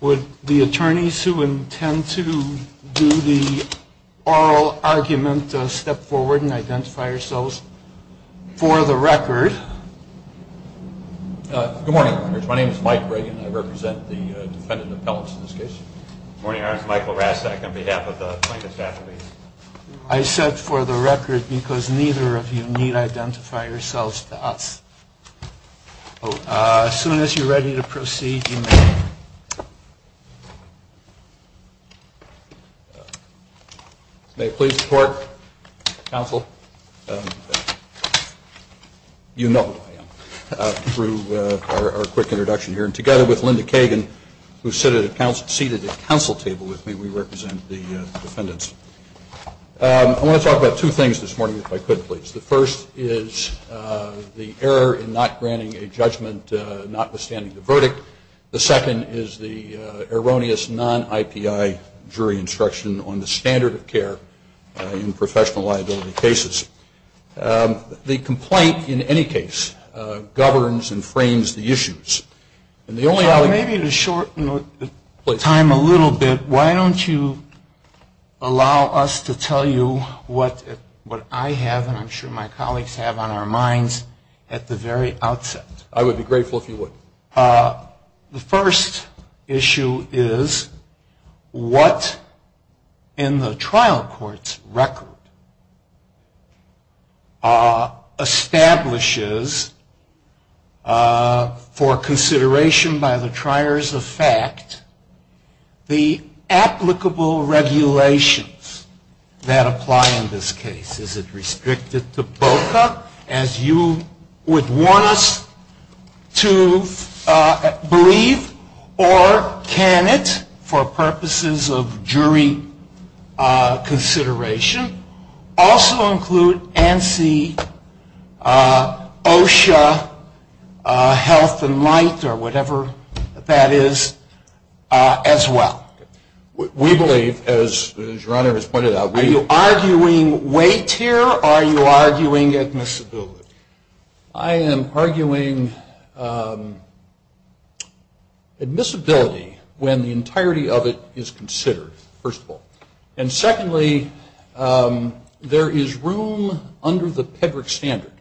Would the attorneys who intend to do the oral argument step forward and identify yourselves for the record? Good morning, Your Honor. My name is Mike Reagan. I represent the defendant appellants in this case. Good morning, Your Honor. It's Michael Rastak on behalf of the plaintiff's affiliates. I said for the record because neither of you need identify yourselves to us. As soon as you're ready to proceed, you may. May I please report, counsel? You know who I am through our quick introduction here. And together with Linda Kagan, who's seated at the counsel table with me, we represent the defendants. I want to talk about two things this morning, if I could, please. The first is the error in not granting a judgment notwithstanding the verdict. The second is the erroneous non-IPI jury instruction on the standard of care in professional liability cases. The complaint, in any case, governs and frames the issues. Maybe to shorten the time a little bit, why don't you allow us to tell you what I have, and I'm sure my colleagues have on our minds, at the very outset. I would be grateful if you would. The first issue is what in the trial court's record establishes, for consideration by the triers of fact, the applicable regulations that apply in this case. Is it restricted to BOCA, as you would want us to believe, or can it, for purposes of jury consideration, also include ANSI, OSHA, Health and Light, or whatever that is, as well? We believe, as your Honor has pointed out, we... Are you arguing weight here, or are you arguing admissibility? I am arguing admissibility when the entirety of it is considered, first of all. And secondly, there is room under the Pedrick standard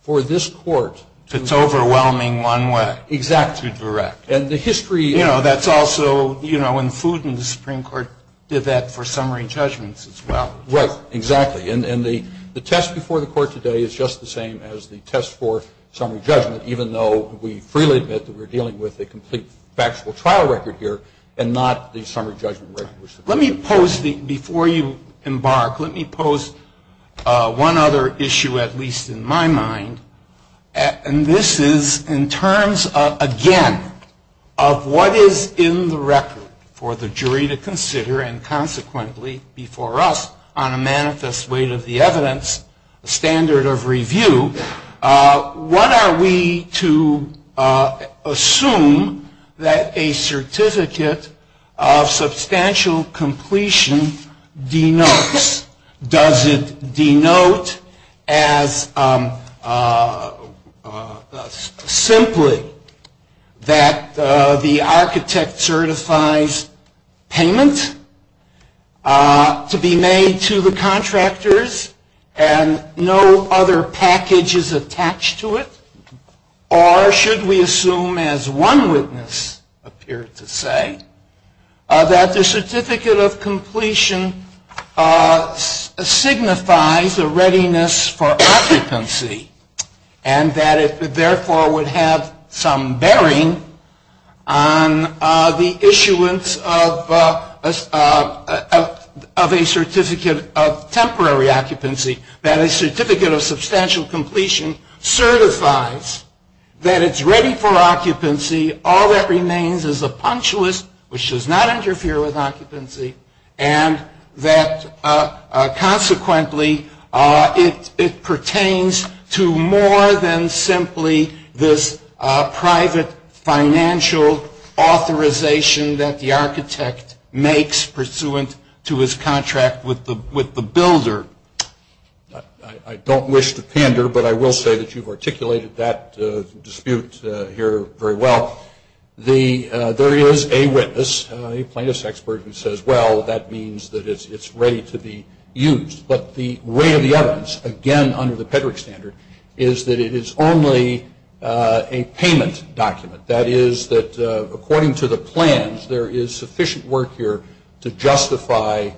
for this court to... It's overwhelming one way. Exactly. To direct. And the history... You know, that's also, you know, when Food and the Supreme Court did that for summary judgments as well. Right. Exactly. And the test before the court today is just the same as the test for summary judgment, even though we freely admit that we're dealing with a complete factual trial record here and not the summary judgment record. Let me pose, before you embark, let me pose one other issue, at least in my mind, and this is in terms, again, of what is in the record for the jury to consider and consequently, before us, on a manifest weight of the evidence, a standard of review, what are we to assume that a certificate of substantial completion denotes? Does it denote as simply that the architect certifies payment to be made to the contractors and no other package is attached to it? Or should we assume, as one witness appeared to say, that the certificate of completion signifies a readiness for occupancy and that it therefore would have some bearing on the issuance of a certificate of temporary occupancy, that a certificate of substantial completion certifies that it's ready for occupancy, all that remains is a punctualist, which does not interfere with occupancy, and that consequently it pertains to more than simply this private financial authorization that the architect makes pursuant to his contract with the builder? I don't wish to pander, but I will say that you've articulated that dispute here very well. There is a witness, a plaintiff's expert, who says, well, that means that it's ready to be used, but the weight of the evidence, again, under the Pedrick standard, is that it is only a payment document, that is, that according to the plans, there is sufficient work here to justify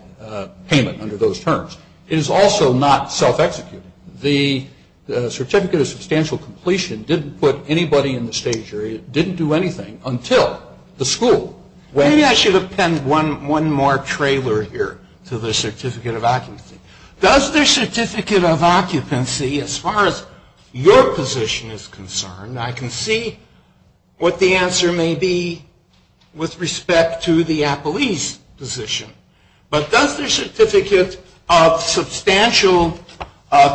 payment under those terms. It is also not self-executing. The certificate of substantial completion didn't put anybody in the state jury, it didn't do anything until the school went. Maybe I should append one more trailer here to the certificate of occupancy. Does the certificate of occupancy, as far as your position is concerned, I can see what the answer may be with respect to the appellee's position, but does the certificate of substantial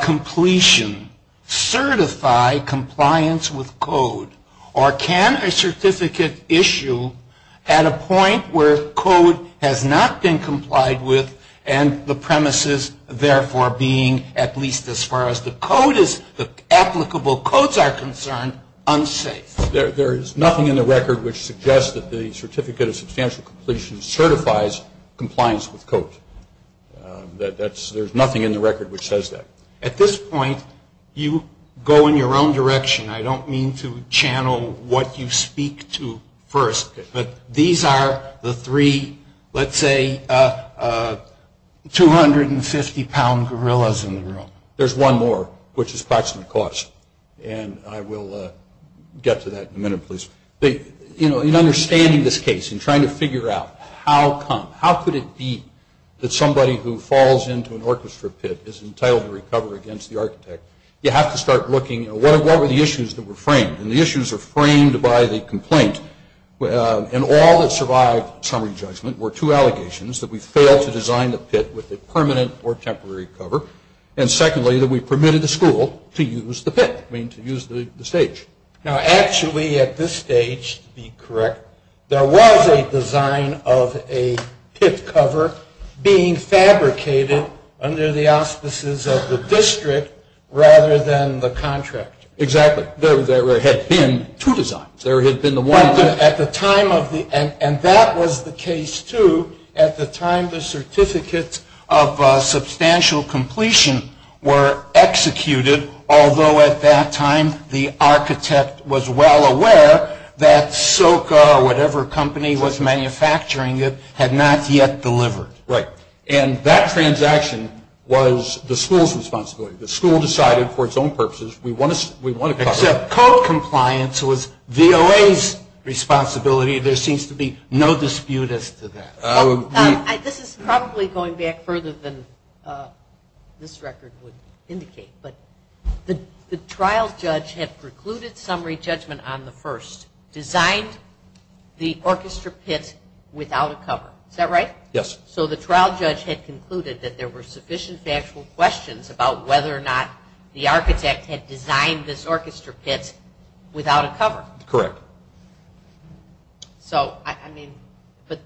completion certify compliance with code, or can a certificate issue at a point where code has not been complied with and the premises therefore being, at least as far as the code is, the applicable codes are concerned, unsafe? There is nothing in the record which suggests that the certificate of substantial completion certifies compliance with code. There is nothing in the record which says that. At this point, you go in your own direction. I don't mean to channel what you speak to first, but these are the three, let's say, 250-pound gorillas in the room. There's one more, which is proximate cause, and I will get to that in a minute, please. In understanding this case and trying to figure out how come, how could it be that somebody who falls into an orchestra pit is entitled to recover against the architect, you have to start looking at what were the issues that were framed, and the issues are framed by the complaint, and all that survived summary judgment were two allegations, that we failed to design the pit with a permanent or temporary cover, and secondly, that we permitted the school to use the pit, I mean, to use the stage. Now, actually, at this stage, to be correct, there was a design of a pit cover being fabricated under the auspices of the district rather than the contractor. Exactly. There had been two designs. There had been the one that... At the time of the... were executed, although at that time the architect was well aware that SOCA or whatever company was manufacturing it had not yet delivered. Right. And that transaction was the school's responsibility. The school decided for its own purposes, we want to cover it. Except code compliance was VOA's responsibility. There seems to be no dispute as to that. This is probably going back further than this record would indicate, but the trial judge had precluded summary judgment on the first, designed the orchestra pit without a cover. Is that right? Yes. So the trial judge had concluded that there were sufficient factual questions about whether or not the architect had designed this orchestra pit without a cover. Correct. So, I mean, but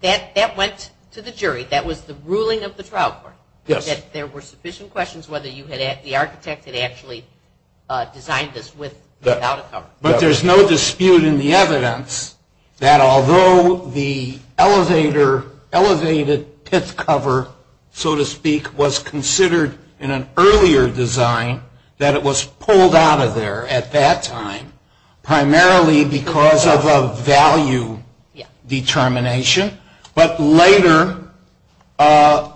that went to the jury. That was the ruling of the trial court. Yes. That there were sufficient questions whether the architect had actually designed this without a cover. But there's no dispute in the evidence that although the elevator, elevated pit cover, so to speak, was considered in an earlier design that it was pulled out of there at that time primarily because of a value determination, but later a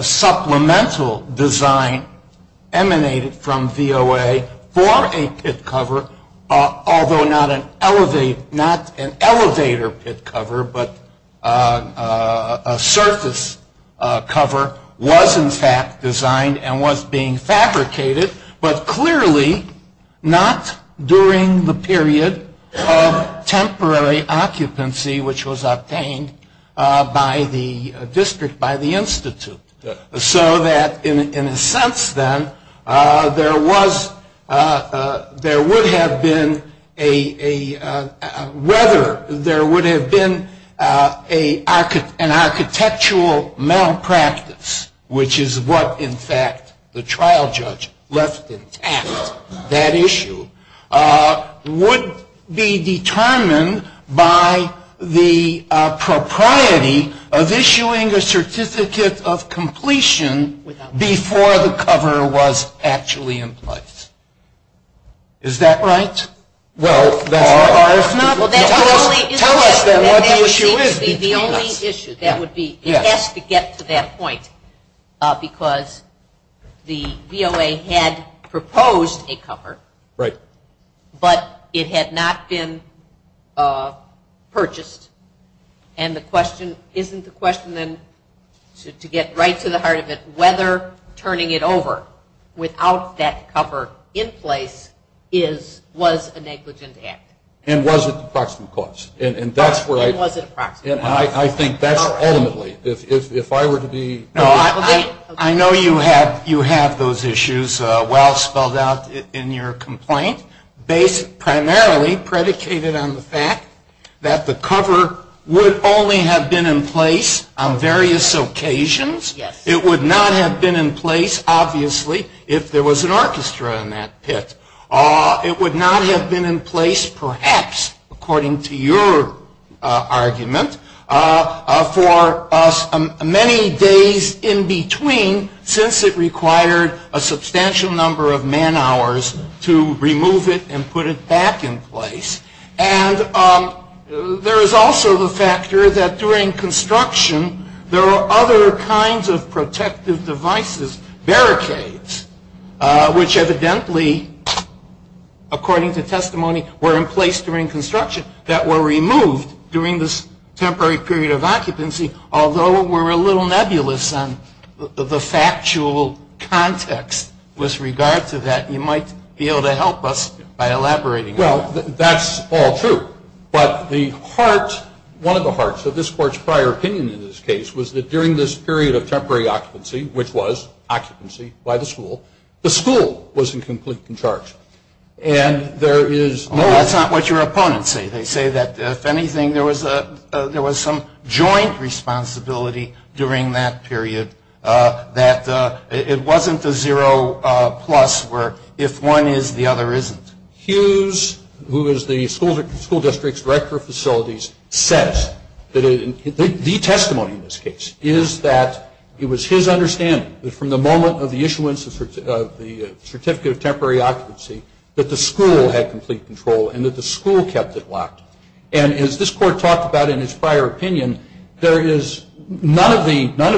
supplemental design emanated from VOA for a pit cover, although not an elevator pit cover, but a surface cover, was in fact designed and was being fabricated, but clearly not during the period of temporary occupancy, which was obtained by the district, by the institute. So that in a sense then, there was, there would have been a, whether there would have been an architectural malpractice, which is what in fact the trial judge left intact, that issue would be determined by the propriety of issuing a certificate of completion before the cover was actually in place. Is that right? Well, that's not ours. Tell us then what the issue is. The only issue that would be, it has to get to that point because the VOA had proposed a cover, but it had not been purchased. And the question, isn't the question then, to get right to the heart of it, whether turning it over without that cover in place was a negligent act. And was it the proximate cause? And was it the proximate cause? I think that's ultimately, if I were to be. I know you have those issues well spelled out in your complaint, primarily predicated on the fact that the cover would only have been in place on various occasions. It would not have been in place, obviously, if there was an orchestra in that pit. It would not have been in place, perhaps, according to your argument, for many days in between since it required a substantial number of man hours to remove it and put it back in place. And there is also the factor that during construction there are other kinds of protective devices, barricades, which evidently, according to testimony, were in place during construction that were removed during this temporary period of occupancy, although we're a little nebulous on the factual context with regard to that. You might be able to help us by elaborating on that. That's all true. But the heart, one of the hearts of this Court's prior opinion in this case, was that during this period of temporary occupancy, which was occupancy by the school, the school was in complete charge. And there is no- That's not what your opponents say. They say that, if anything, there was some joint responsibility during that period that it wasn't the zero plus where if one is, the other isn't. Hughes, who is the school district's director of facilities, says that the testimony in this case is that it was his understanding that from the moment of the issuance of the Certificate of Temporary Occupancy that the school had complete control and that the school kept it locked. And as this Court talked about in its prior opinion, there is none of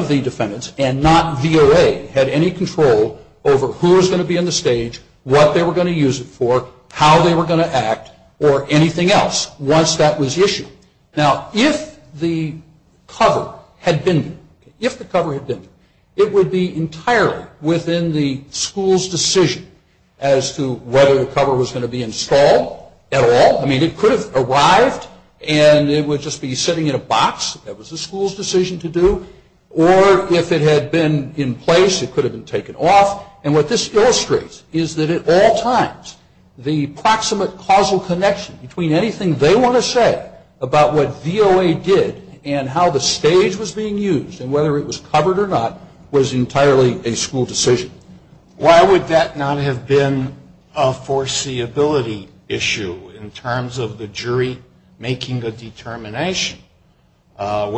the defendants and not VOA had any control over who was going to be on the stage, what they were going to use it for, how they were going to act, or anything else once that was issued. Now, if the cover had been there, if the cover had been there, it would be entirely within the school's decision as to whether the cover was going to be installed at all. I mean, it could have arrived and it would just be sitting in a box. That was the school's decision to do. Or if it had been in place, it could have been taken off. And what this illustrates is that at all times the proximate causal connection between anything they want to say about what VOA did and how the stage was being used and whether it was covered or not was entirely a school decision. Why would that not have been a foreseeability issue in terms of the jury making a determination? I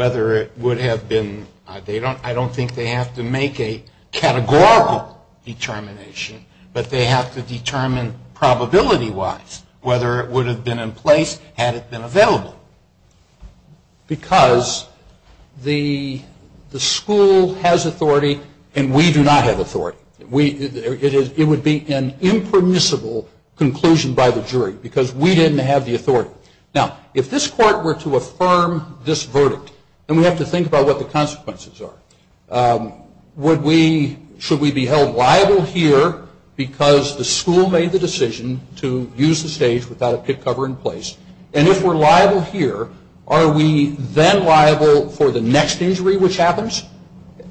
don't think they have to make a categorical determination, but they have to determine probability-wise whether it would have been in place had it been available. Because the school has authority and we do not have authority. It would be an impermissible conclusion by the jury because we didn't have the authority. Now, if this court were to affirm this verdict, then we have to think about what the consequences are. Should we be held liable here because the school made the decision to use the stage without a pit cover in place? And if we're liable here, are we then liable for the next injury which happens?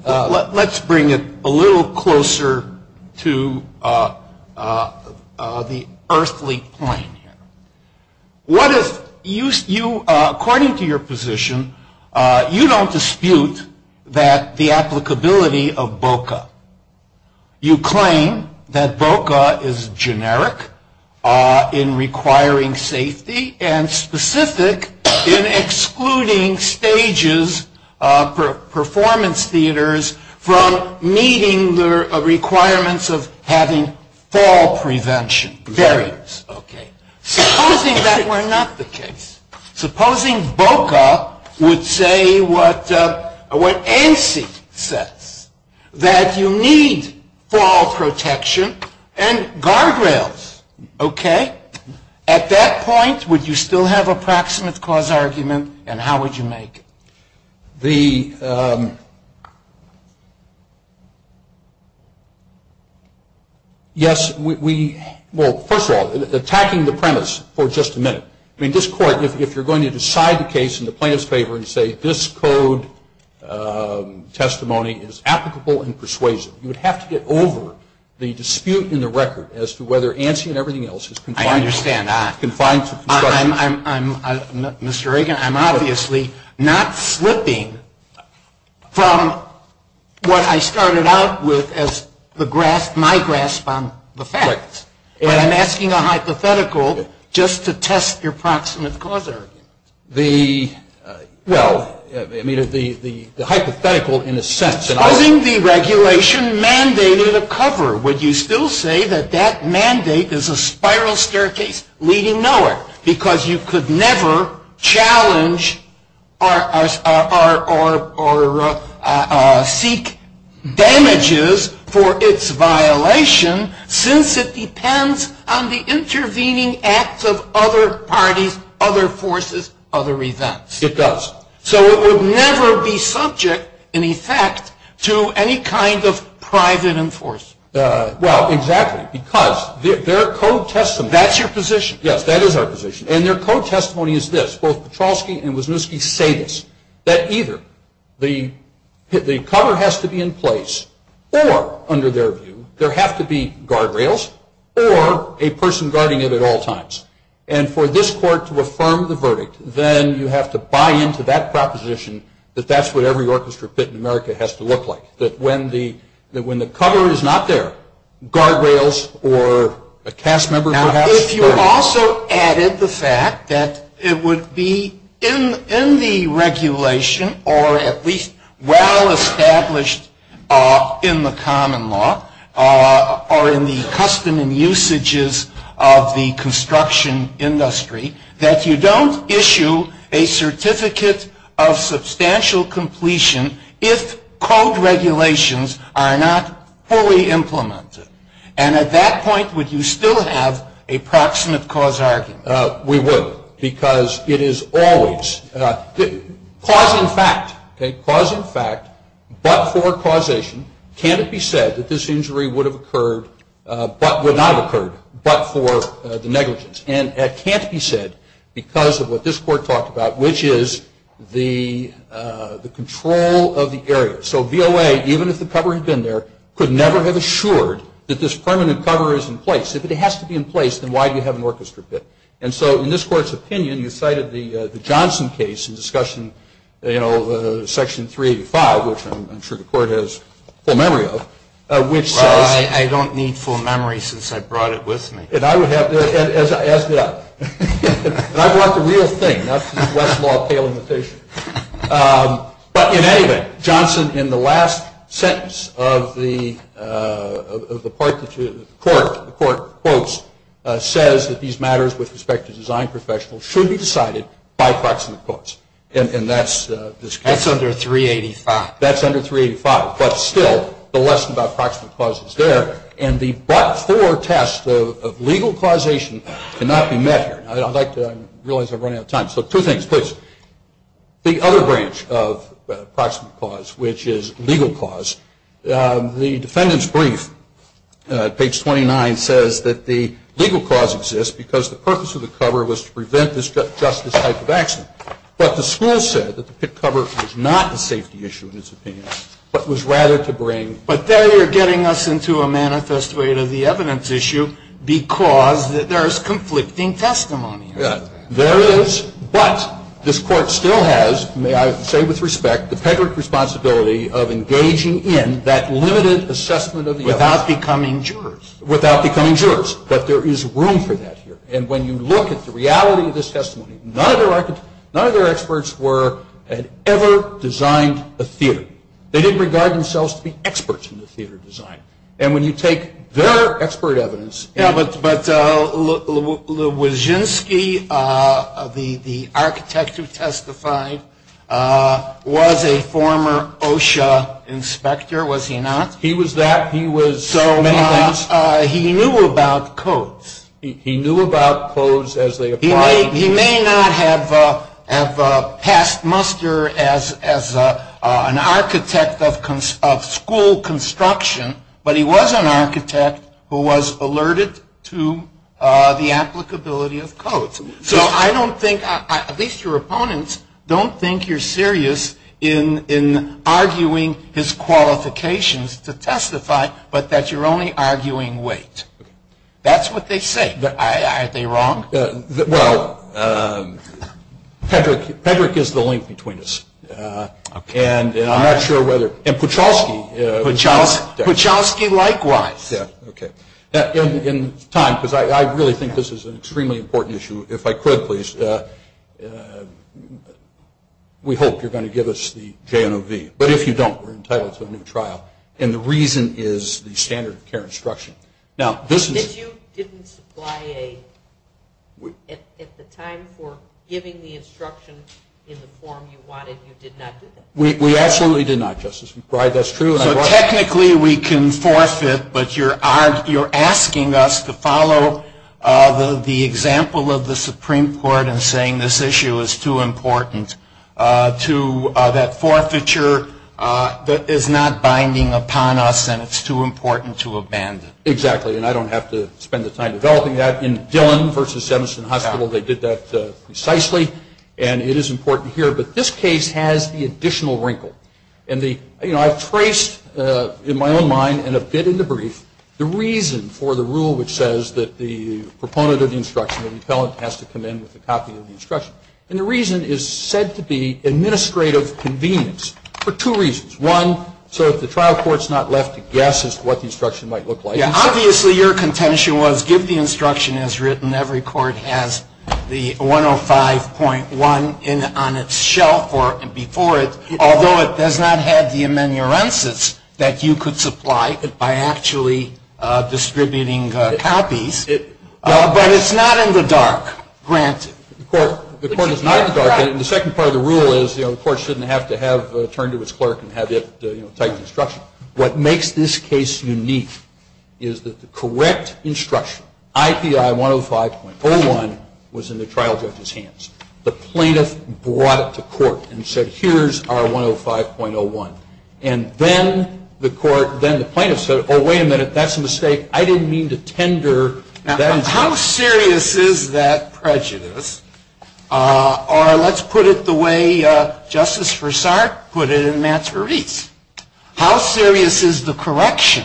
Let's bring it a little closer to the earthly plane here. What if you, according to your position, you don't dispute that the applicability of VOCA. You claim that VOCA is generic in requiring safety and specific in excluding stages for performance theaters from meeting the requirements of having fall prevention barriers. Okay. Supposing that were not the case. Supposing VOCA would say what ANSI says, that you need fall protection and guardrails. Okay? At that point, would you still have a proximate cause argument and how would you make it? The, yes, we, well, first of all, attacking the premise for just a minute. I mean, this court, if you're going to decide the case in the plaintiff's favor and say this code testimony is applicable in persuasion, you would have to get over the dispute in the record as to whether ANSI and everything else is confined. I understand. Mr. Reagan, I'm obviously not slipping from what I started out with as the grasp, my grasp on the facts. And I'm asking a hypothetical just to test your proximate cause argument. The, well, I mean, the hypothetical in a sense. Supposing the regulation mandated a cover, would you still say that that mandate is a spiral staircase leading nowhere because you could never challenge or seek damages for its violation since it depends on the intervening acts of other parties, other forces, other events. It does. So it would never be subject, in effect, to any kind of private enforcement. Well, exactly. Because their code testimony. That's your position. Yes, that is our position. And their code testimony is this. Both Petrowski and Wisniewski say this. That either the cover has to be in place or, under their view, there have to be guardrails or a person guarding it at all times. And for this court to affirm the verdict, then you have to buy into that proposition that that's what every orchestra pit in America has to look like. That when the cover is not there, guardrails or a cast member perhaps. Now, if you also added the fact that it would be in the regulation or at least well established in the common law or in the custom and usages of the construction industry that you don't issue a certificate of substantial completion if code regulations are not fully implemented. And at that point, would you still have a proximate cause argument? We would. Because it is always cause and fact. Cause and fact, but for causation. Can it be said that this injury would have occurred, but would not have occurred, but for the negligence? And it can't be said because of what this court talked about, which is the control of the area. So VOA, even if the cover had been there, could never have assured that this permanent cover is in place. If it has to be in place, then why do you have an orchestra pit? And so in this court's opinion, you cited the Johnson case in section 385, which I'm sure the court has full memory of, which says. Well, I don't need full memory since I brought it with me. As did I. And I brought the real thing, not the Westlaw pale imitation. But in any event, Johnson, in the last sentence of the part that the court quotes, says that these matters with respect to design professionals should be decided by proximate cause, and that's this case. That's under 385. That's under 385. But still, the lesson about proximate cause is there. And the but-for test of legal causation cannot be met here. I realize I'm running out of time. So two things, please. The other branch of proximate cause, which is legal cause, the defendant's brief, page 29, says that the legal cause exists because the purpose of the cover was to prevent this type of accident. But the school said that the pit cover was not a safety issue, in its opinion, but was rather to bring But there you're getting us into a manifest way to the evidence issue because there is conflicting testimony. Yeah. There is. But this Court still has, may I say with respect, the pedigreed responsibility of engaging in that limited assessment of the evidence. Without becoming jurors. Without becoming jurors. But there is room for that here. And when you look at the reality of this testimony, none of their experts had ever designed a theater. They didn't regard themselves to be experts in the theater design. And when you take their expert evidence. But Lewizinski, the architect who testified, was a former OSHA inspector, was he not? He was that. He was many things. So he knew about codes. He knew about codes as they applied. He may not have passed muster as an architect of school construction, but he was an architect who was alerted to the applicability of codes. So I don't think, at least your opponents, don't think you're serious in arguing his qualifications to testify, but that you're only arguing weight. That's what they say. Are they wrong? Well, Pedrick is the link between us. And I'm not sure whether, and Pucholsky. Pucholsky likewise. In time, because I really think this is an extremely important issue. If I could, please, we hope you're going to give us the JNOV. But if you don't, we're entitled to a new trial. And the reason is the standard of care instruction. But you didn't supply a, at the time, for giving the instruction in the form you wanted. You did not do that. We absolutely did not, Justice Breyer. That's true. So technically we can forfeit, but you're asking us to follow the example of the Supreme Court in saying this issue is too important to that forfeiture that is not binding upon us and it's too important to abandon. Exactly. And I don't have to spend the time developing that. In Dillon v. Semerson Hospital, they did that precisely. And it is important here. But this case has the additional wrinkle. And I've traced in my own mind and a bit in the brief the reason for the rule which says that the proponent of the instruction, the appellant has to come in with a copy of the instruction. And the reason is said to be administrative convenience for two reasons. One, so if the trial court's not left to guess as to what the instruction might look like. Yeah, obviously your contention was give the instruction as written. Every court has the 105.1 on its shelf or before it, although it does not have the amenurences that you could supply by actually distributing copies. But it's not in the dark, granted. The court is not in the dark. And the second part of the rule is the court shouldn't have to have turned to its clerk and have it type the instruction. What makes this case unique is that the correct instruction, IPI 105.01, was in the trial judge's hands. The plaintiff brought it to court and said, here's our 105.01. And then the court, then the plaintiff said, oh, wait a minute, that's a mistake. I didn't mean to tender that instruction. How serious is that prejudice? Or let's put it the way Justice Forsard put it in Matt's release. How serious is the correction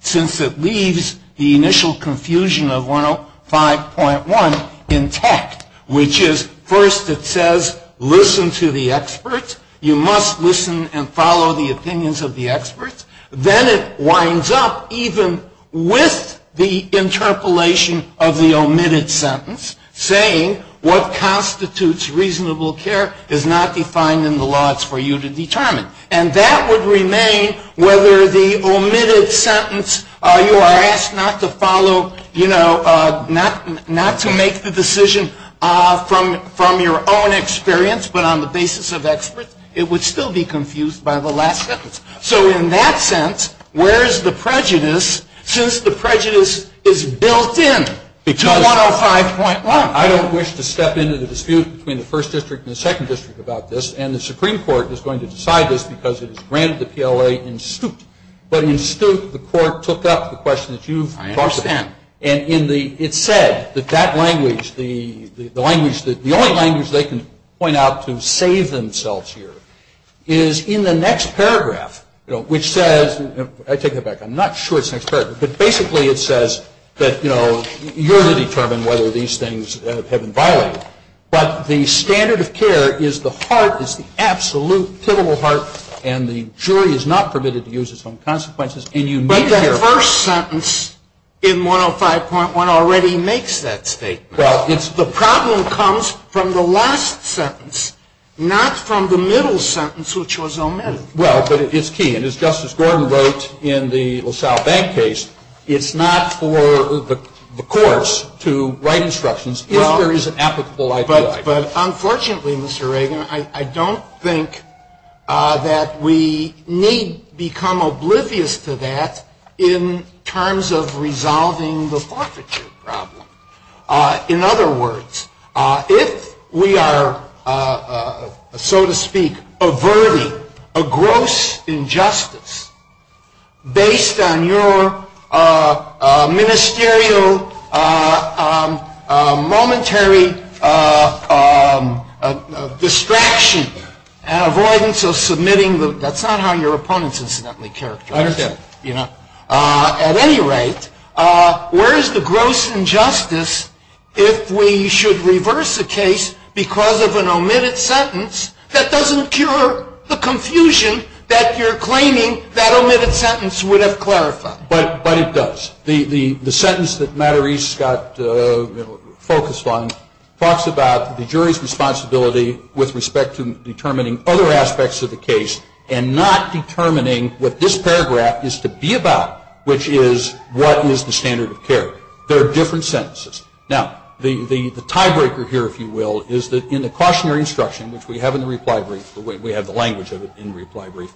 since it leaves the initial confusion of 105.1 intact, which is first it says, listen to the experts. You must listen and follow the opinions of the experts. Then it winds up even with the interpolation of the omitted sentence saying what constitutes reasonable care is not defined in the law. It's for you to determine. And that would remain whether the omitted sentence, you are asked not to follow, you know, not to make the decision from your own experience, but on the basis of experts, it would still be confused by the last sentence. So in that sense, where is the prejudice since the prejudice is built in to 105.1? I don't wish to step into the dispute between the first district and the second district about this. And the Supreme Court is going to decide this because it has granted the PLA in stooped. But in stooped, the court took up the question that you've brought up. And it's said that that language, the only language they can point out to save themselves here is in the next paragraph, which says, I take that back. I'm not sure it's the next paragraph. But basically it says that, you know, you're to determine whether these things have been violated. But the standard of care is the heart, is the absolute, pivotal heart, and the jury is not permitted to use its own consequences. But that first sentence in 105.1 already makes that statement. Well, it's the problem comes from the last sentence, not from the middle sentence, which was omitted. Well, but it's key. And as Justice Gordon wrote in the LaSalle Bank case, it's not for the courts to write instructions if there is an applicable IP. But unfortunately, Mr. Reagan, I don't think that we need become oblivious to that in terms of resolving the forfeiture problem. In other words, if we are, so to speak, averting a gross injustice based on your ministerial momentary distraction and avoidance of submitting the, that's not how your opponents incidentally characterize it. I understand. At any rate, where is the gross injustice if we should reverse a case because of an omitted sentence that doesn't cure the confusion that you're claiming that omitted sentence would have clarified? But it does. The sentence that Matt Arese got focused on talks about the jury's responsibility with respect to determining other aspects of the case and not determining what this paragraph is to be about, which is what is the standard of care. There are different sentences. Now, the tiebreaker here, if you will, is that in the cautionary instruction, which we have in the reply brief, we have the language of it in the reply brief,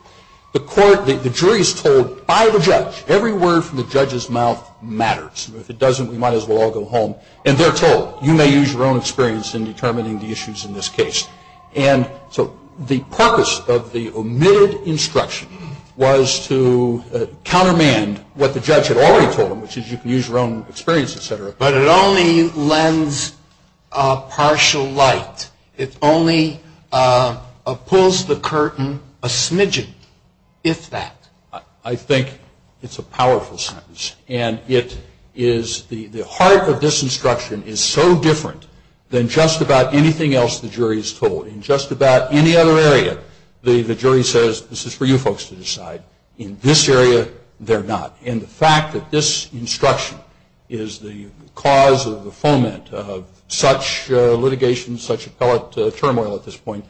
the jury is told by the judge, every word from the judge's mouth matters. If it doesn't, we might as well all go home. And they're told, you may use your own experience in determining the issues in this case. So the purpose of the omitted instruction was to countermand what the judge had already told them, which is you can use your own experience, et cetera. But it only lends partial light. It only pulls the curtain a smidgen, if that. I think it's a powerful sentence. And the heart of this instruction is so different than just about anything else the jury is told. In just about any other area, the jury says, this is for you folks to decide. In this area, they're not. And the fact that this instruction is the cause of the foment of such litigation, such appellate turmoil at this point,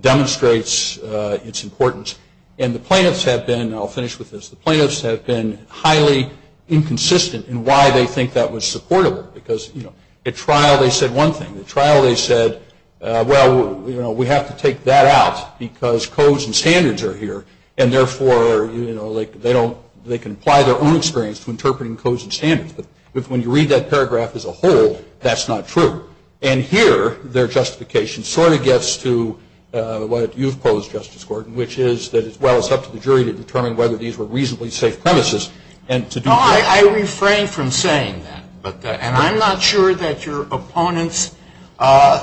demonstrates its importance. And the plaintiffs have been, and I'll finish with this, the plaintiffs have been highly inconsistent in why they think that was supportable. Because, you know, at trial they said one thing. At trial they said, well, you know, we have to take that out because codes and standards are here. And therefore, you know, they don't, they can apply their own experience to interpreting codes and standards. But when you read that paragraph as a whole, that's not true. And here their justification sort of gets to what you've posed, Justice Gordon, which is that, well, it's up to the jury to determine whether these were reasonably safe premises. No, I refrain from saying that. And I'm not sure that your opponents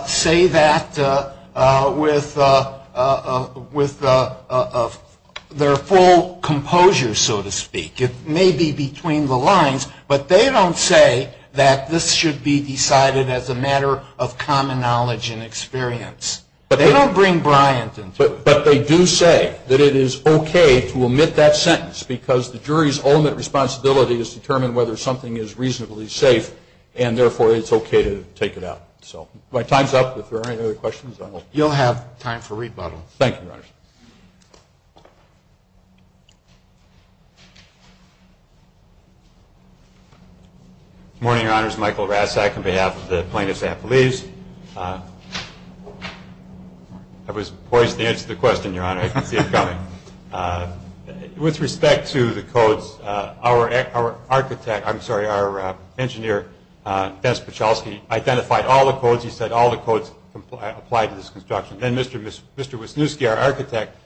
say that with their full composure, so to speak. It may be between the lines, but they don't say that this should be decided as a matter of common knowledge and experience. They don't bring Bryant into it. But they do say that it is okay to omit that sentence because the jury's ultimate responsibility is to determine whether something is reasonably safe, and therefore it's okay to take it out. So my time's up. If there are any other questions, I will. You'll have time for rebuttal. Thank you, Your Honors. Good morning, Your Honors. Michael Rassack on behalf of the plaintiff's affilies. I was poised to answer the question, Your Honor. I can see it coming. With respect to the codes, our architect, I'm sorry, our engineer, Dennis Pachowski, identified all the codes. He said all the codes apply to this construction. Then Mr. Wisniewski, our architect,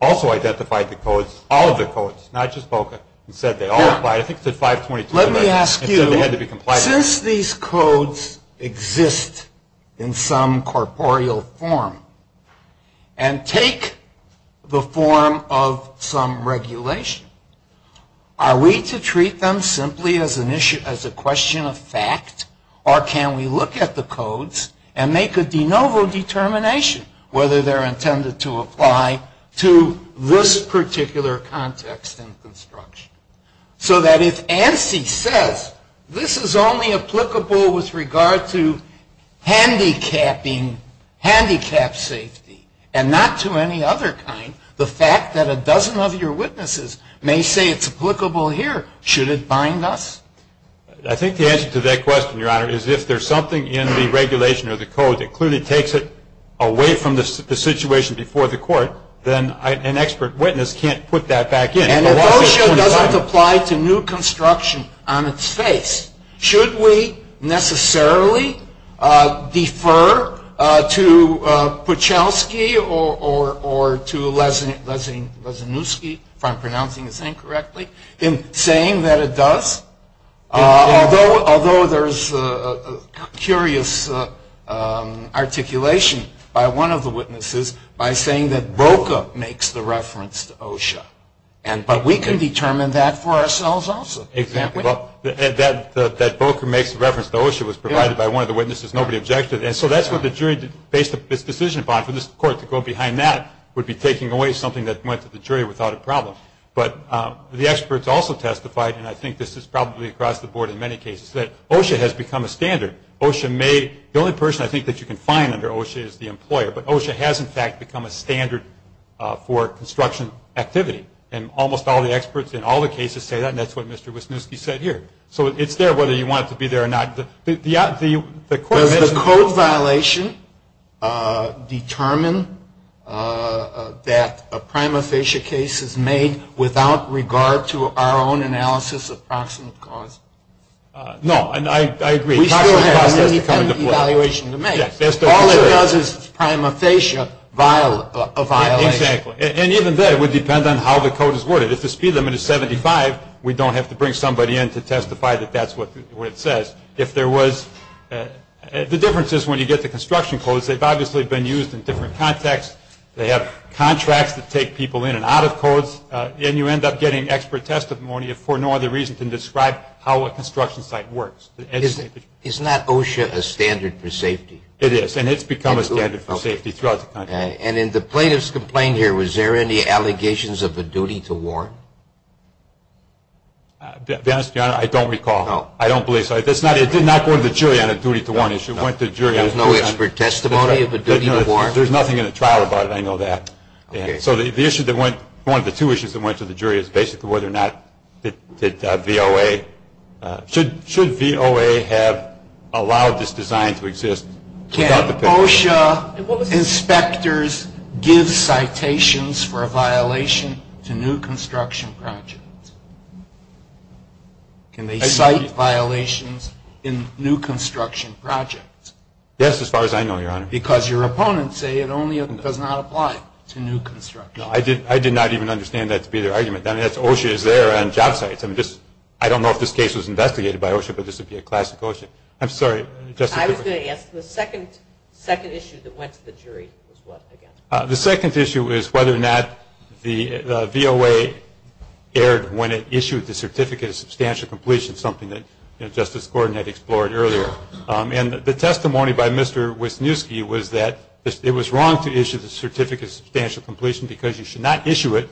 also identified the codes, all of the codes, not just BOCA, and said they all apply. I think it said 522. Let me ask you, since these codes exist in some corporeal form and take the form of some regulation, are we to treat them simply as a question of fact, or can we look at the codes and make a de novo determination whether they're intended to apply to this particular context in construction? So that if ANSI says this is only applicable with regard to handicapping handicapped safety, and not to any other kind, the fact that a dozen of your witnesses may say it's applicable here, should it bind us? I think the answer to that question, Your Honor, is if there's something in the regulation or the code that clearly takes it away from the situation before the court, then an expert witness can't put that back in. And if BOCA doesn't apply to new construction on its face, should we necessarily defer to Puchelski or to Lesinewski, if I'm pronouncing his name correctly, in saying that it does? Although there's curious articulation by one of the witnesses by saying that BOCA makes the reference to OSHA. But we can determine that for ourselves also. Exactly. That BOCA makes the reference to OSHA was provided by one of the witnesses. Nobody objected. And so that's what the jury based its decision upon. For this court to go behind that would be taking away something that went to the jury without a problem. But the experts also testified, and I think this is probably across the board in many cases, that OSHA has become a standard. The only person I think that you can find under OSHA is the employer. But OSHA has, in fact, become a standard for construction activity. And almost all the experts in all the cases say that, and that's what Mr. Wisniewski said here. So it's there whether you want it to be there or not. Does the code violation determine that a prima facie case is made without regard to our own analysis of proximate cause? No. And I agree. We still have an evaluation to make. All it does is prima facie a violation. Exactly. And even then, it would depend on how the code is worded. If the speed limit is 75, we don't have to bring somebody in to testify that that's what it says. The difference is when you get the construction codes, they've obviously been used in different contexts. They have contracts that take people in and out of codes, and you end up getting expert testimony for no other reason than to describe how a construction site works. Isn't that OSHA a standard for safety? It is, and it's become a standard for safety throughout the country. And in the plaintiff's complaint here, was there any allegations of a duty to warn? To be honest, Your Honor, I don't recall. I don't believe so. It did not go to the jury on a duty to warn issue. It went to the jury. There's no expert testimony of a duty to warn? There's nothing in the trial about it. I know that. So one of the two issues that went to the jury is basically whether or not should VOA have allowed this design to exist. Can OSHA inspectors give citations for a violation to new construction projects? Can they cite violations in new construction projects? Yes, as far as I know, Your Honor. Because your opponents say it only and does not apply to new construction. No, I did not even understand that to be their argument. I mean, OSHA is there on job sites. I don't know if this case was investigated by OSHA, but this would be a classic OSHA. I'm sorry, Justice Ginsburg. I was going to ask, the second issue that went to the jury was what again? The second issue is whether or not the VOA erred when it issued the certificate of substantial completion, something that Justice Gordon had explored earlier. And the testimony by Mr. Wisniewski was that it was wrong to issue the certificate of substantial completion because you should not issue it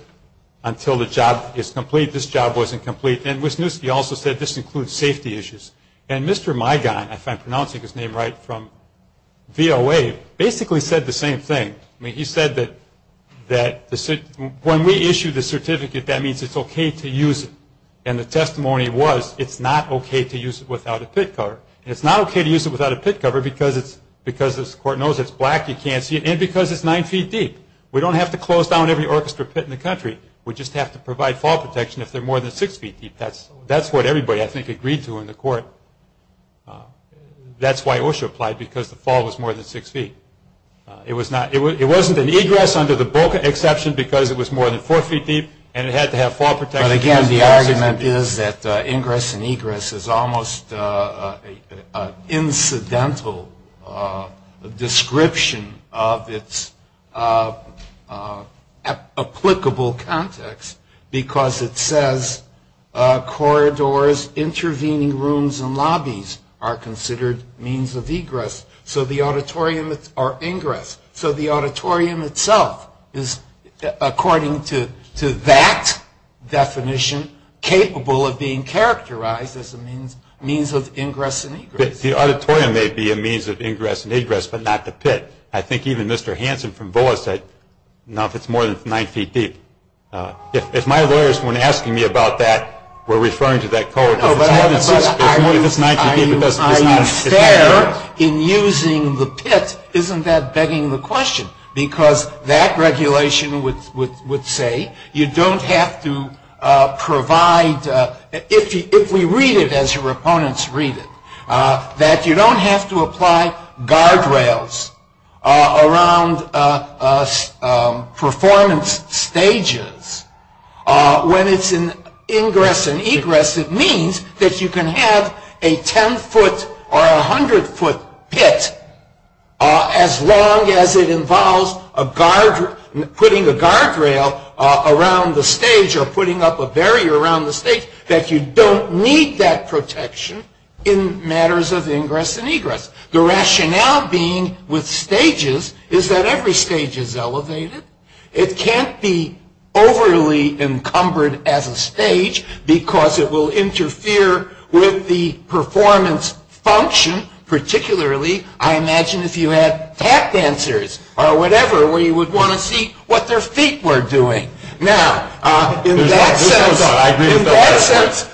until the job is complete. This job wasn't complete. And Wisniewski also said this includes safety issues. And Mr. Migon, if I'm pronouncing his name right, from VOA, basically said the same thing. I mean, he said that when we issue the certificate, that means it's okay to use it. And the testimony was it's not okay to use it without a pit cover. And it's not okay to use it without a pit cover because the court knows it's black, you can't see it, and because it's nine feet deep. We don't have to close down every orchestra pit in the country. We just have to provide fall protection if they're more than six feet deep. That's what everybody, I think, agreed to in the court. That's why OSHA applied because the fall was more than six feet. It wasn't an egress under the Boca exception because it was more than four feet deep and it had to have fall protection. But, again, the argument is that ingress and egress is almost an incidental description of its applicable context because it says corridors, intervening rooms, and lobbies are considered means of egress or ingress. So the auditorium itself is, according to that definition, capable of being characterized as a means of ingress and egress. The auditorium may be a means of ingress and egress but not the pit. I think even Mr. Hanson from BOA said, no, if it's more than nine feet deep. If my lawyers, when asking me about that, were referring to that code, if it's more than six feet, if it's nine feet deep, it doesn't make sense. Are you fair in using the pit? Isn't that begging the question? Because that regulation would say you don't have to provide, if we read it as your opponents read it, that you don't have to apply guardrails around performance stages. When it's in ingress and egress, it means that you can have a ten-foot or a hundred-foot pit as long as it involves putting a guardrail around the stage or putting up a barrier around the stage, that you don't need that protection in matters of ingress and egress. The rationale being with stages is that every stage is elevated. It can't be overly encumbered as a stage because it will interfere with the performance function, particularly, I imagine, if you had tap dancers or whatever, where you would want to see what their feet were doing. Now, in that sense,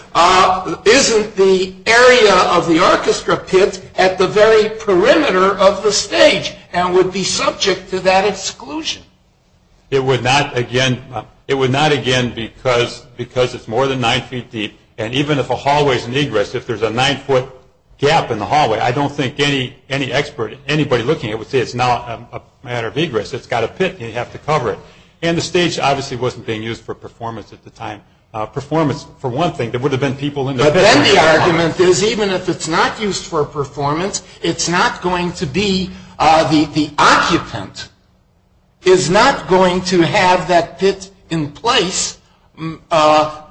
isn't the area of the orchestra pit at the very perimeter of the stage and would be subject to that exclusion? It would not, again, because it's more than nine feet deep, and even if a hallway is in egress, if there's a nine-foot gap in the hallway, I don't think any expert, anybody looking at it would say it's not a matter of egress. It's got a pit and you have to cover it. And the stage obviously wasn't being used for performance at the time. Performance, for one thing, there would have been people in there. But then the argument is even if it's not used for performance, it's not going to be the occupant is not going to have that pit in place at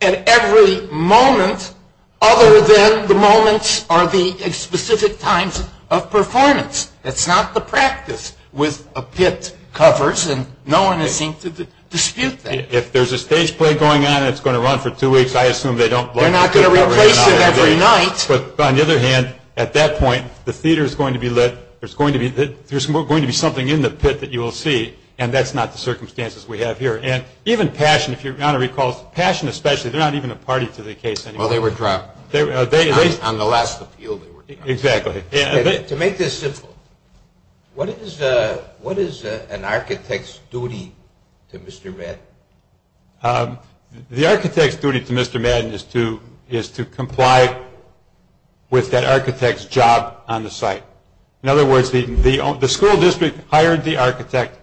every moment other than the moments or the specific times of performance. That's not the practice with a pit covers, and no one is seen to dispute that. If there's a stage play going on and it's going to run for two weeks, I assume they don't block it. They're not going to replace it every night. But on the other hand, at that point, the theater is going to be lit, there's going to be something in the pit that you will see, and that's not the circumstances we have here. And even Passion, if your Honor recalls, Passion especially, they're not even a party to the case anymore. Well, they were dropped. On the last appeal they were dropped. Exactly. To make this simple, what is an architect's duty to Mr. Madden? The architect's duty to Mr. Madden is to comply with that architect's job on the site. In other words, the school district hired the architect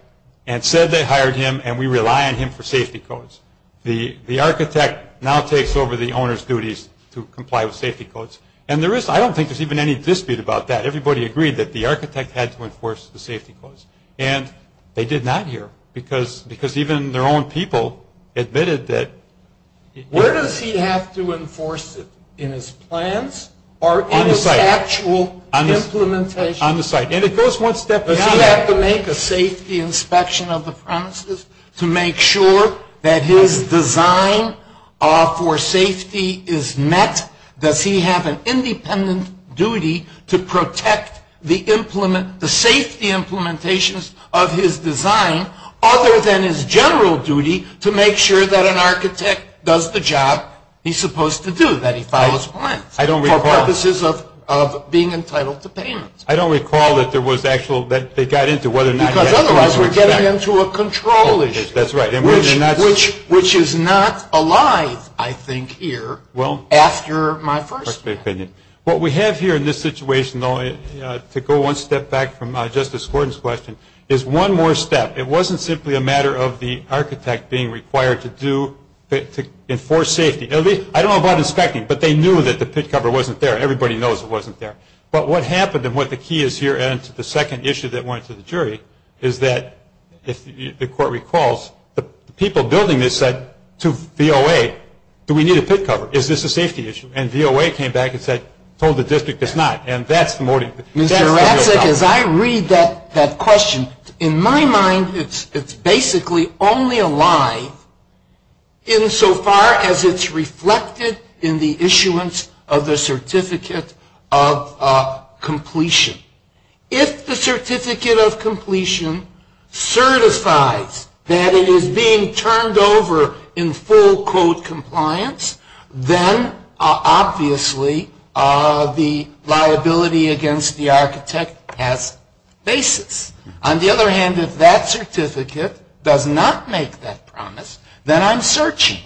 and said they hired him and we rely on him for safety codes. The architect now takes over the owner's duties to comply with safety codes. And I don't think there's even any dispute about that. Everybody agreed that the architect had to enforce the safety codes. And they did not here because even their own people admitted that. Where does he have to enforce it? In his plans or in his actual implementation? On the site. And it goes one step beyond that. Does he have to make a safety inspection of the premises to make sure that his design for safety is met? Does he have an independent duty to protect the safety implementations of his design other than his general duty to make sure that an architect does the job he's supposed to do, that he follows plans for purposes of being entitled to payment? I don't recall that they got into whether or not he has to enforce that. Because otherwise we're getting into a control issue. That's right. Which is not alive, I think, here after my first opinion. What we have here in this situation, though, to go one step back from Justice Gordon's question, is one more step. It wasn't simply a matter of the architect being required to enforce safety. I don't know about inspecting, but they knew that the pit cover wasn't there. Everybody knows it wasn't there. But what happened and what the key is here and to the second issue that went to the jury is that if the court recalls, the people building this said to VOA, do we need a pit cover? Is this a safety issue? And VOA came back and said, told the district it's not. And that's the motive. Mr. Ratzek, as I read that question, in my mind it's basically only a lie insofar as it's reflected in the issuance of the Certificate of Completion. If the Certificate of Completion certifies that it is being turned over in full code compliance, then obviously the liability against the architect has basis. On the other hand, if that certificate does not make that promise, then I'm searching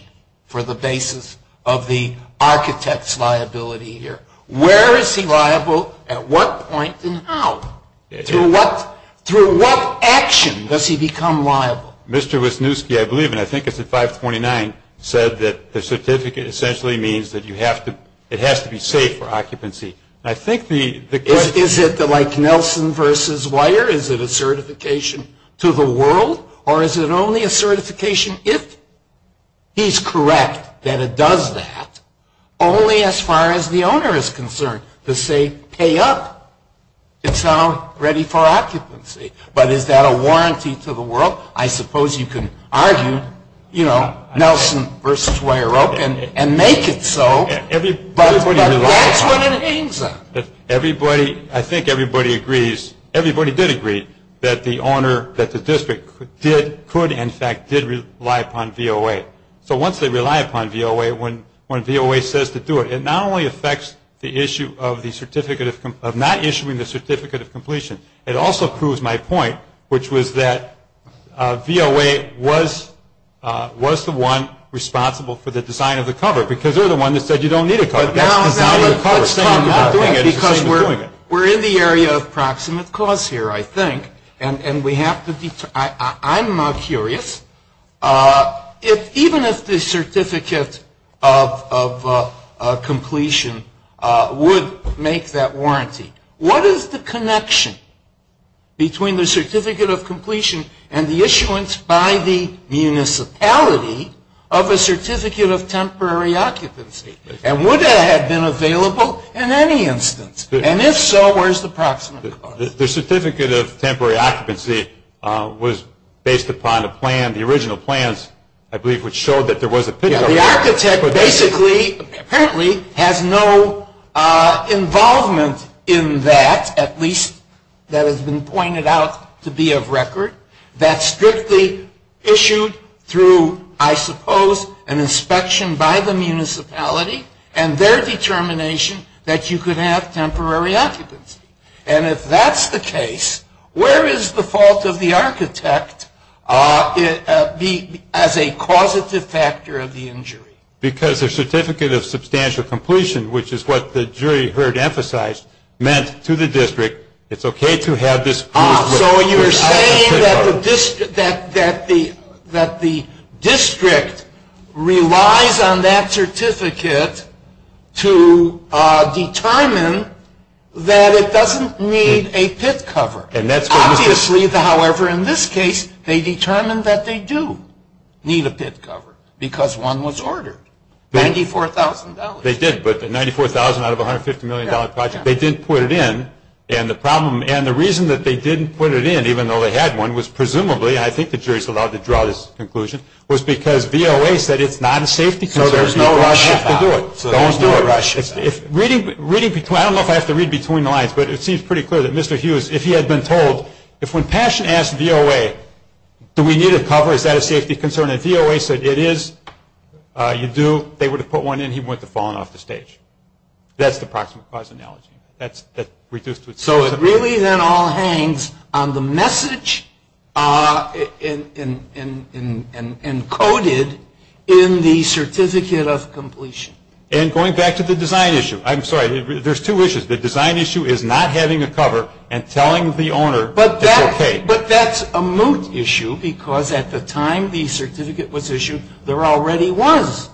for the basis of the architect's liability here. Where is he liable? At what point and how? Through what action does he become liable? Mr. Wisniewski, I believe, and I think it's at 529, said that the certificate essentially means that it has to be safe for occupancy. Is it like Nelson versus Weyer? Is it a certification to the world or is it only a certification if he's correct that it does that, only as far as the owner is concerned? To say, pay up. It's now ready for occupancy. But is that a warranty to the world? I suppose you can argue, you know, Nelson versus Weyer Oak and make it so. But that's what it means. Everybody, I think everybody agrees, everybody did agree that the owner, that the district did, could, in fact, did rely upon VOA. So once they rely upon VOA, when VOA says to do it, it not only affects the issue of not issuing the certificate of completion, it also proves my point, which was that VOA was the one responsible for the design of the cover because they're the one that said you don't need a cover. That's the design of the cover. It's the same as not doing it. It's the same as doing it. We're in the area of proximate cause here, I think. And we have to be, I'm curious. Even if the certificate of completion would make that warranty, what is the connection between the certificate of completion and the issuance by the municipality of a certificate of temporary occupancy? And would that have been available in any instance? And if so, where's the proximate cause? The certificate of temporary occupancy was based upon a plan, the original plans, I believe, which showed that there was a picture. The architect basically, apparently, has no involvement in that, at least that has been pointed out to be of record. That's strictly issued through, I suppose, an inspection by the municipality and their determination that you could have temporary occupancy. And if that's the case, where is the fault of the architect as a causative factor of the injury? Because the certificate of substantial completion, which is what the jury heard emphasized, meant to the district it's okay to have this proof. So you're saying that the district relies on that certificate to determine that it doesn't need a pit cover. Obviously, however, in this case, they determined that they do need a pit cover because one was ordered, $94,000. They did, but the $94,000 out of a $150 million project, they didn't put it in. And the reason that they didn't put it in, even though they had one, was presumably, and I think the jury is allowed to draw this conclusion, was because VOA said it's not a safety concern. So there's no rush about it. I don't know if I have to read between the lines, but it seems pretty clear that Mr. Hughes, if he had been told, if when Paschen asked VOA, do we need a cover, is that a safety concern, and VOA said it is, you do, they would have put one in, he would have fallen off the stage. That's the proximate cause analogy. So it really then all hangs on the message encoded in the certificate of completion. And going back to the design issue, I'm sorry, there's two issues. The design issue is not having a cover and telling the owner it's okay. But that's a moot issue because at the time the certificate was issued, there already was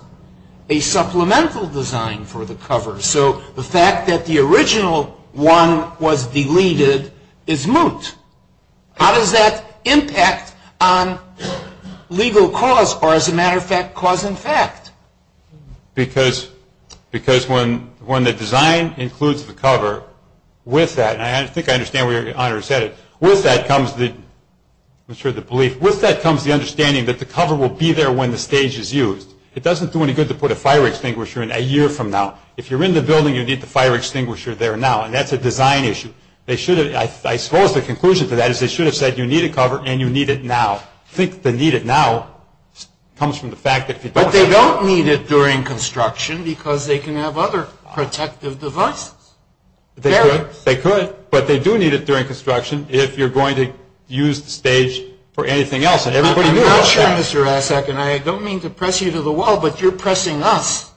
a supplemental design for the cover. So the fact that the original one was deleted is moot. How does that impact on legal cause, or as a matter of fact, cause in fact? Because when the design includes the cover, with that, and I think I understand where your Honor said it, with that comes the belief, with that comes the understanding that the cover will be there when the stage is used. It doesn't do any good to put a fire extinguisher in a year from now. If you're in the building, you need the fire extinguisher there now, and that's a design issue. I suppose the conclusion to that is they should have said you need a cover and you need it now. I think the need it now comes from the fact that if you don't. But they don't need it during construction because they can have other protective devices. They could, but they do need it during construction if you're going to use the stage for anything else, and everybody knows that. I'm not sure, Mr. Rasack, and I don't mean to press you to the wall, but you're pressing us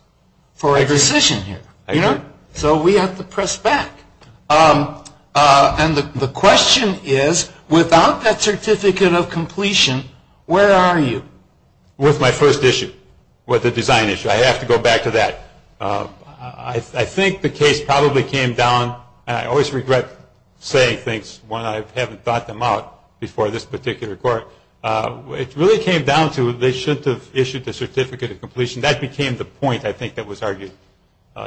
for a decision here. I agree. So we have to press back. And the question is, without that certificate of completion, where are you? With my first issue, with the design issue. I have to go back to that. I think the case probably came down, and I always regret saying things when I haven't thought them out before this particular court. It really came down to they shouldn't have issued the certificate of completion. That became the point, I think, that was argued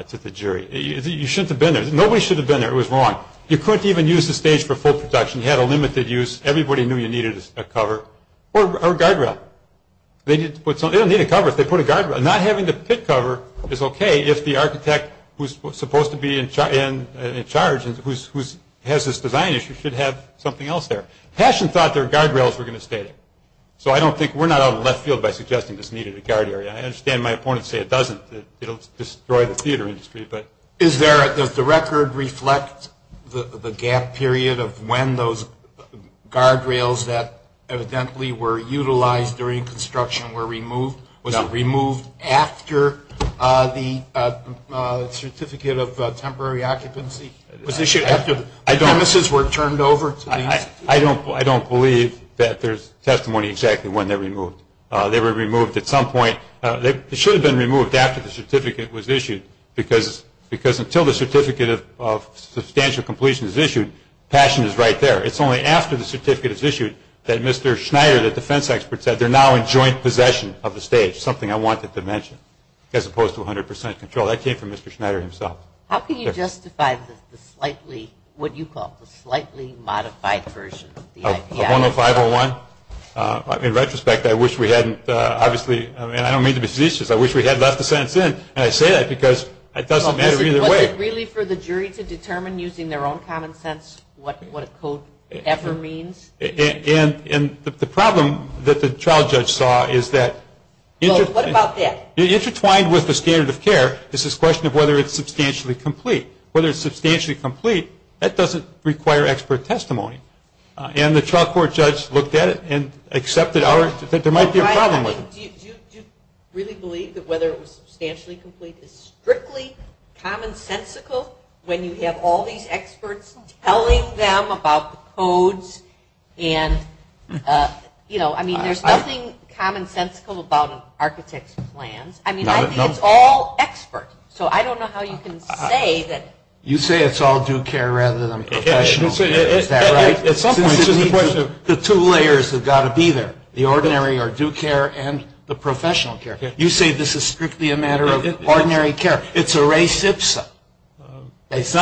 to the jury. You shouldn't have been there. Nobody should have been there. It was wrong. You couldn't even use the stage for full production. You had a limited use. Everybody knew you needed a cover or a guardrail. They don't need a cover if they put a guardrail. Not having the pit cover is okay if the architect who's supposed to be in charge and who has this design issue should have something else there. Paschen thought their guardrails were going to stay there. So I don't think we're not out of the left field by suggesting this needed a guard area. I understand my opponents say it doesn't, that it will destroy the theater industry. Does the record reflect the gap period of when those guardrails that evidently were utilized during construction were removed? Was it removed after the certificate of temporary occupancy? Was it issued after premises were turned over? I don't believe that there's testimony exactly when they were removed. They were removed at some point. They should have been removed after the certificate was issued, because until the certificate of substantial completion is issued, Paschen is right there. It's only after the certificate is issued that Mr. Schneider, the defense expert, said they're now in joint possession of the stage, something I wanted to mention, as opposed to 100 percent control. That came from Mr. Schneider himself. How can you justify the slightly, what do you call it, the slightly modified version of the IPI? A bono 501? In retrospect, I wish we hadn't, obviously, and I don't mean to be seditious, I wish we had left the sentence in, and I say that because it doesn't matter either way. Was it really for the jury to determine using their own common sense what a code ever means? And the problem that the trial judge saw is that intertwined with the standard of care is this question of whether it's substantially complete. Whether it's substantially complete, that doesn't require expert testimony. And the trial court judge looked at it and accepted there might be a problem with it. Do you really believe that whether it was substantially complete is strictly commonsensical when you have all these experts telling them about the codes? And, you know, I mean, there's nothing commonsensical about an architect's plans. I mean, I think it's all expert. So I don't know how you can say that. You say it's all due care rather than professional care. Is that right? At some point, this is the question. The two layers have got to be there. The ordinary or due care and the professional care. You say this is strictly a matter of ordinary care. It's a race ipsa. It's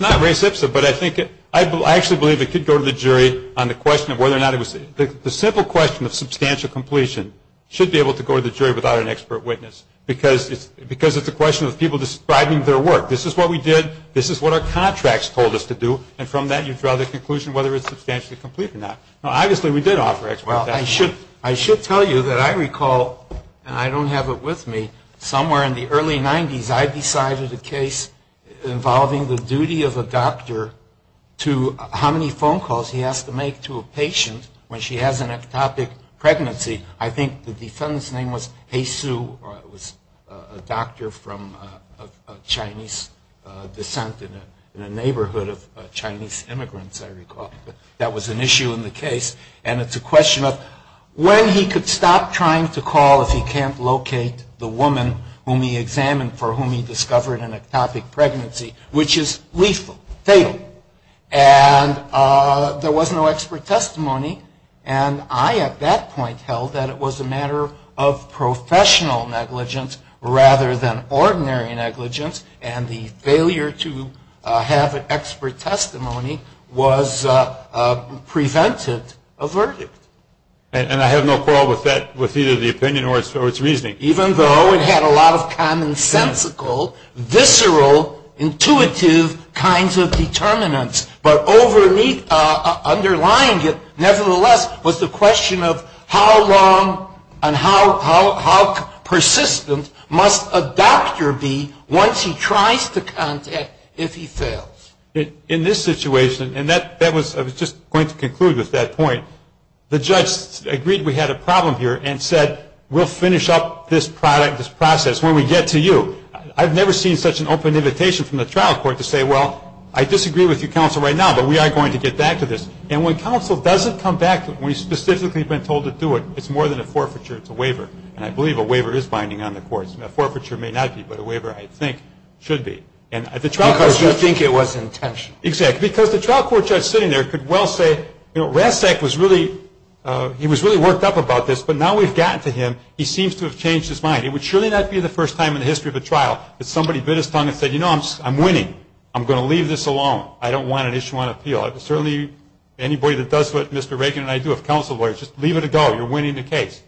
not race ipsa, but I actually believe it could go to the jury on the question of whether or not it was. The simple question of substantial completion should be able to go to the jury without an expert witness because it's a question of people describing their work. This is what we did. This is what our contracts told us to do. And from that, you draw the conclusion whether it's substantially complete or not. Now, obviously, we did offer expert testimony. Well, I should tell you that I recall, and I don't have it with me, somewhere in the early 90s, I decided a case involving the duty of a doctor to how many phone calls he has to make to a patient when she has an ectopic pregnancy. I think the defendant's name was He Su, or it was a doctor from a Chinese descent in a neighborhood of Chinese immigrants, I recall. That was an issue in the case. And it's a question of when he could stop trying to call if he can't locate the woman whom he examined for whom he discovered an ectopic pregnancy, which is lethal, fatal. And there was no expert testimony. And I at that point held that it was a matter of professional negligence rather than ordinary negligence. And the failure to have an expert testimony prevented a verdict. And I have no quarrel with either the opinion or its reasoning. Even though it had a lot of commonsensical, visceral, intuitive kinds of determinants. But underlying it, nevertheless, was the question of how long and how persistent must a doctor be once he tries to contact if he fails. In this situation, and I was just going to conclude with that point, the judge agreed we had a problem here and said we'll finish up this process when we get to you. I've never seen such an open invitation from the trial court to say, well, I disagree with you, counsel, right now, but we are going to get back to this. And when counsel doesn't come back when he's specifically been told to do it, it's more than a forfeiture. It's a waiver. And I believe a waiver is binding on the courts. A forfeiture may not be, but a waiver, I think, should be. Because you think it was intentional. Exactly. Because the trial court judge sitting there could well say, you know, Rasek was really worked up about this, but now we've gotten to him, he seems to have changed his mind. It would surely not be the first time in the history of a trial that somebody bit his tongue and said, you know, I'm winning. I'm going to leave this alone. I don't want an issue on appeal. Certainly anybody that does what Mr. Raken and I do as counsel lawyers, just leave it to go. You're winning the case.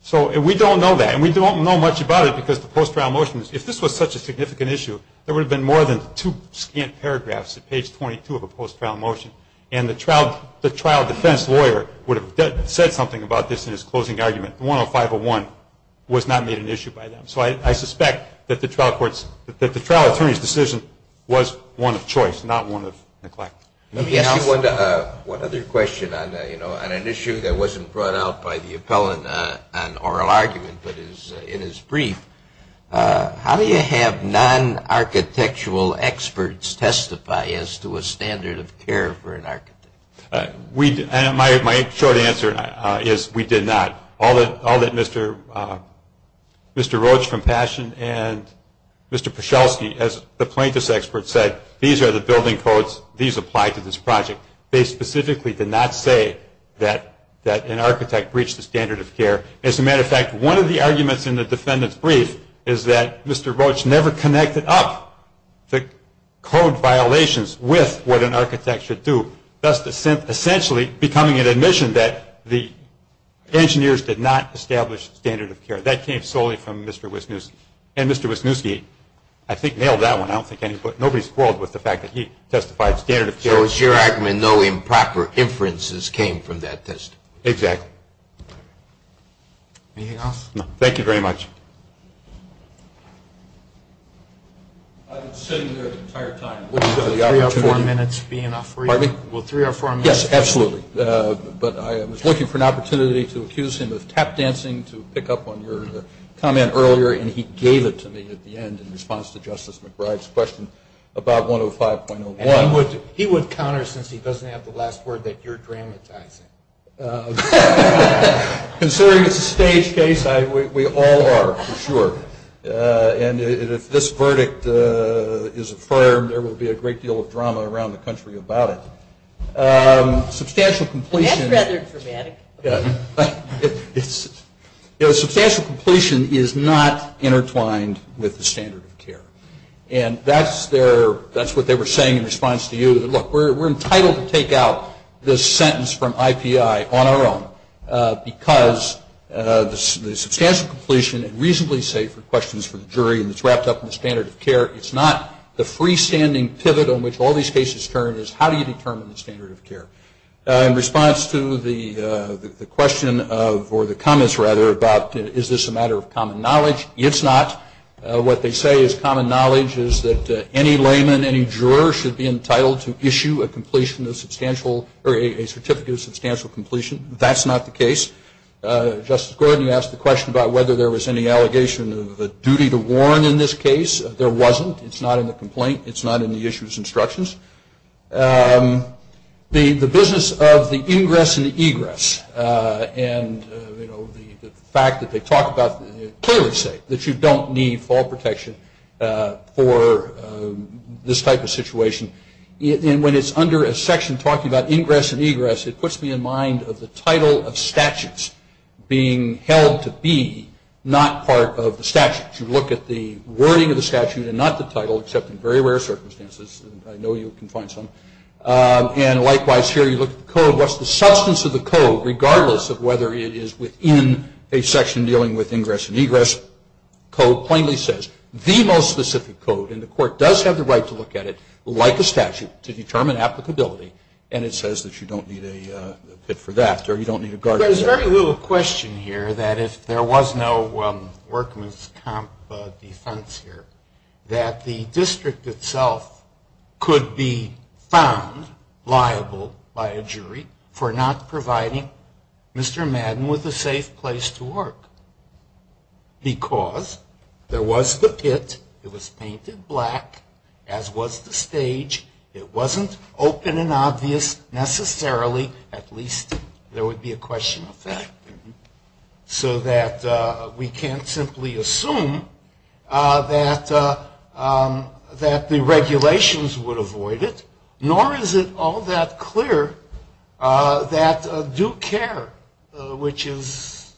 So we don't know that, and we don't know much about it because the post-trial motion, if this was such a significant issue, there would have been more than two scant paragraphs at page 22 of a post-trial motion, and the trial defense lawyer would have said something about this in his closing argument. 10501 was not made an issue by them. So I suspect that the trial attorney's decision was one of choice, not one of neglect. Let me ask you one other question on an issue that wasn't brought out by the appellant on oral argument, but is in his brief. How do you have non-architectural experts testify as to a standard of care for an architect? And my short answer is we did not. All that Mr. Roach from Passion and Mr. Paschalski, as the plaintiff's expert said, these are the building codes, these apply to this project. They specifically did not say that an architect breached the standard of care. As a matter of fact, one of the arguments in the defendant's brief is that Mr. Roach never connected up the code violations with what an architect should do, thus essentially becoming an admission that the engineers did not establish standard of care. That came solely from Mr. Wisniewski. And Mr. Wisniewski, I think, nailed that one. I don't think anybody's quarreled with the fact that he testified standard of care. So it's your argument no improper inferences came from that test? Exactly. Anything else? No. Thank you very much. I've been sitting there the entire time looking for the opportunity. Will three or four minutes be enough for you? Pardon me? Will three or four minutes be enough? Yes, absolutely. But I was looking for an opportunity to accuse him of tap dancing to pick up on your comment earlier, and he gave it to me at the end in response to Justice McBride's question about 105.01. And he would counter since he doesn't have the last word that you're dramatizing. Considering it's a staged case, we all are for sure. And if this verdict is affirmed, there will be a great deal of drama around the country about it. Substantial completion. That's rather dramatic. Substantial completion is not intertwined with the standard of care. And that's what they were saying in response to you. Look, we're entitled to take out this sentence from IPI on our own because the substantial completion and reasonably safe questions for the jury and it's wrapped up in the standard of care, it's not. The freestanding pivot on which all these cases turn is how do you determine the standard of care? In response to the question of, or the comments rather, about is this a matter of common knowledge, it's not. What they say is common knowledge is that any layman, any juror, should be entitled to issue a certificate of substantial completion. That's not the case. Justice Gordon, you asked the question about whether there was any allegation of a duty to warn in this case. There wasn't. It's not in the complaint. It's not in the issue's instructions. The business of the ingress and the egress and the fact that they talk about, clearly say that you don't need fall protection for this type of situation. And when it's under a section talking about ingress and egress, it puts me in mind of the title of statutes being held to be not part of the statute. You look at the wording of the statute and not the title, except in very rare circumstances. I know you can find some. And likewise, here you look at the code. Regardless of whether it is within a section dealing with ingress and egress, the code plainly says, the most specific code, and the court does have the right to look at it like a statute to determine applicability, and it says that you don't need a pit for that or you don't need a guard. There's very little question here that if there was no workman's comp defense here, that the district itself could be found liable by a jury for not providing Mr. Madden with a safe place to work. Because there was the pit, it was painted black, as was the stage, it wasn't open and obvious necessarily, at least there would be a question of that, so that we can't simply assume that the regulations would avoid it, nor is it all that clear that due care, which is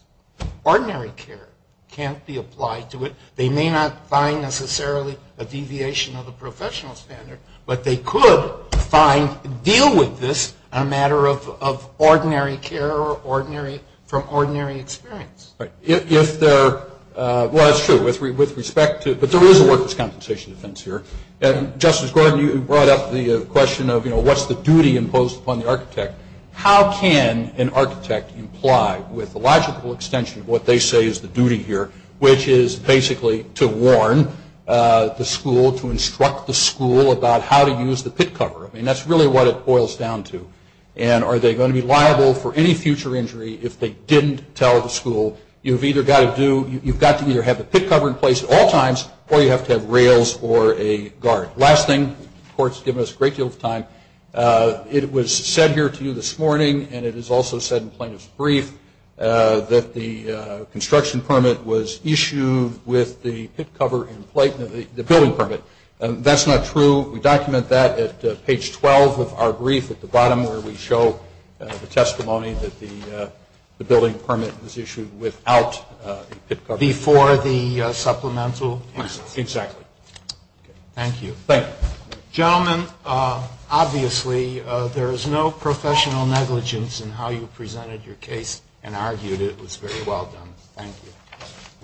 ordinary care, can't be applied to it. They may not find necessarily a deviation of the professional standard, but they could find, deal with this, a matter of ordinary care or from ordinary experience. If there, well that's true, with respect to, but there is a workman's compensation defense here, and Justice Gordon, you brought up the question of what's the duty imposed upon the architect, how can an architect imply with the logical extension of what they say is the duty here, which is basically to warn the school, to instruct the school about how to use the pit cover, I mean that's really what it boils down to, and are they going to be liable for any future injury if they didn't tell the school, you've got to either have the pit cover in place at all times, or you have to have rails or a guard. Last thing, the court's given us a great deal of time, it was said here to you this morning, and it is also said in plaintiff's brief, that the construction permit was issued with the pit cover in place, the building permit, that's not true, we document that at page 12 of our brief at the bottom, where we show the testimony that the building permit was issued without the pit cover. Before the supplemental? Exactly. Thank you. Thank you. Gentlemen, obviously there is no professional negligence in how you presented your case, and argued it was very well done. Thank you.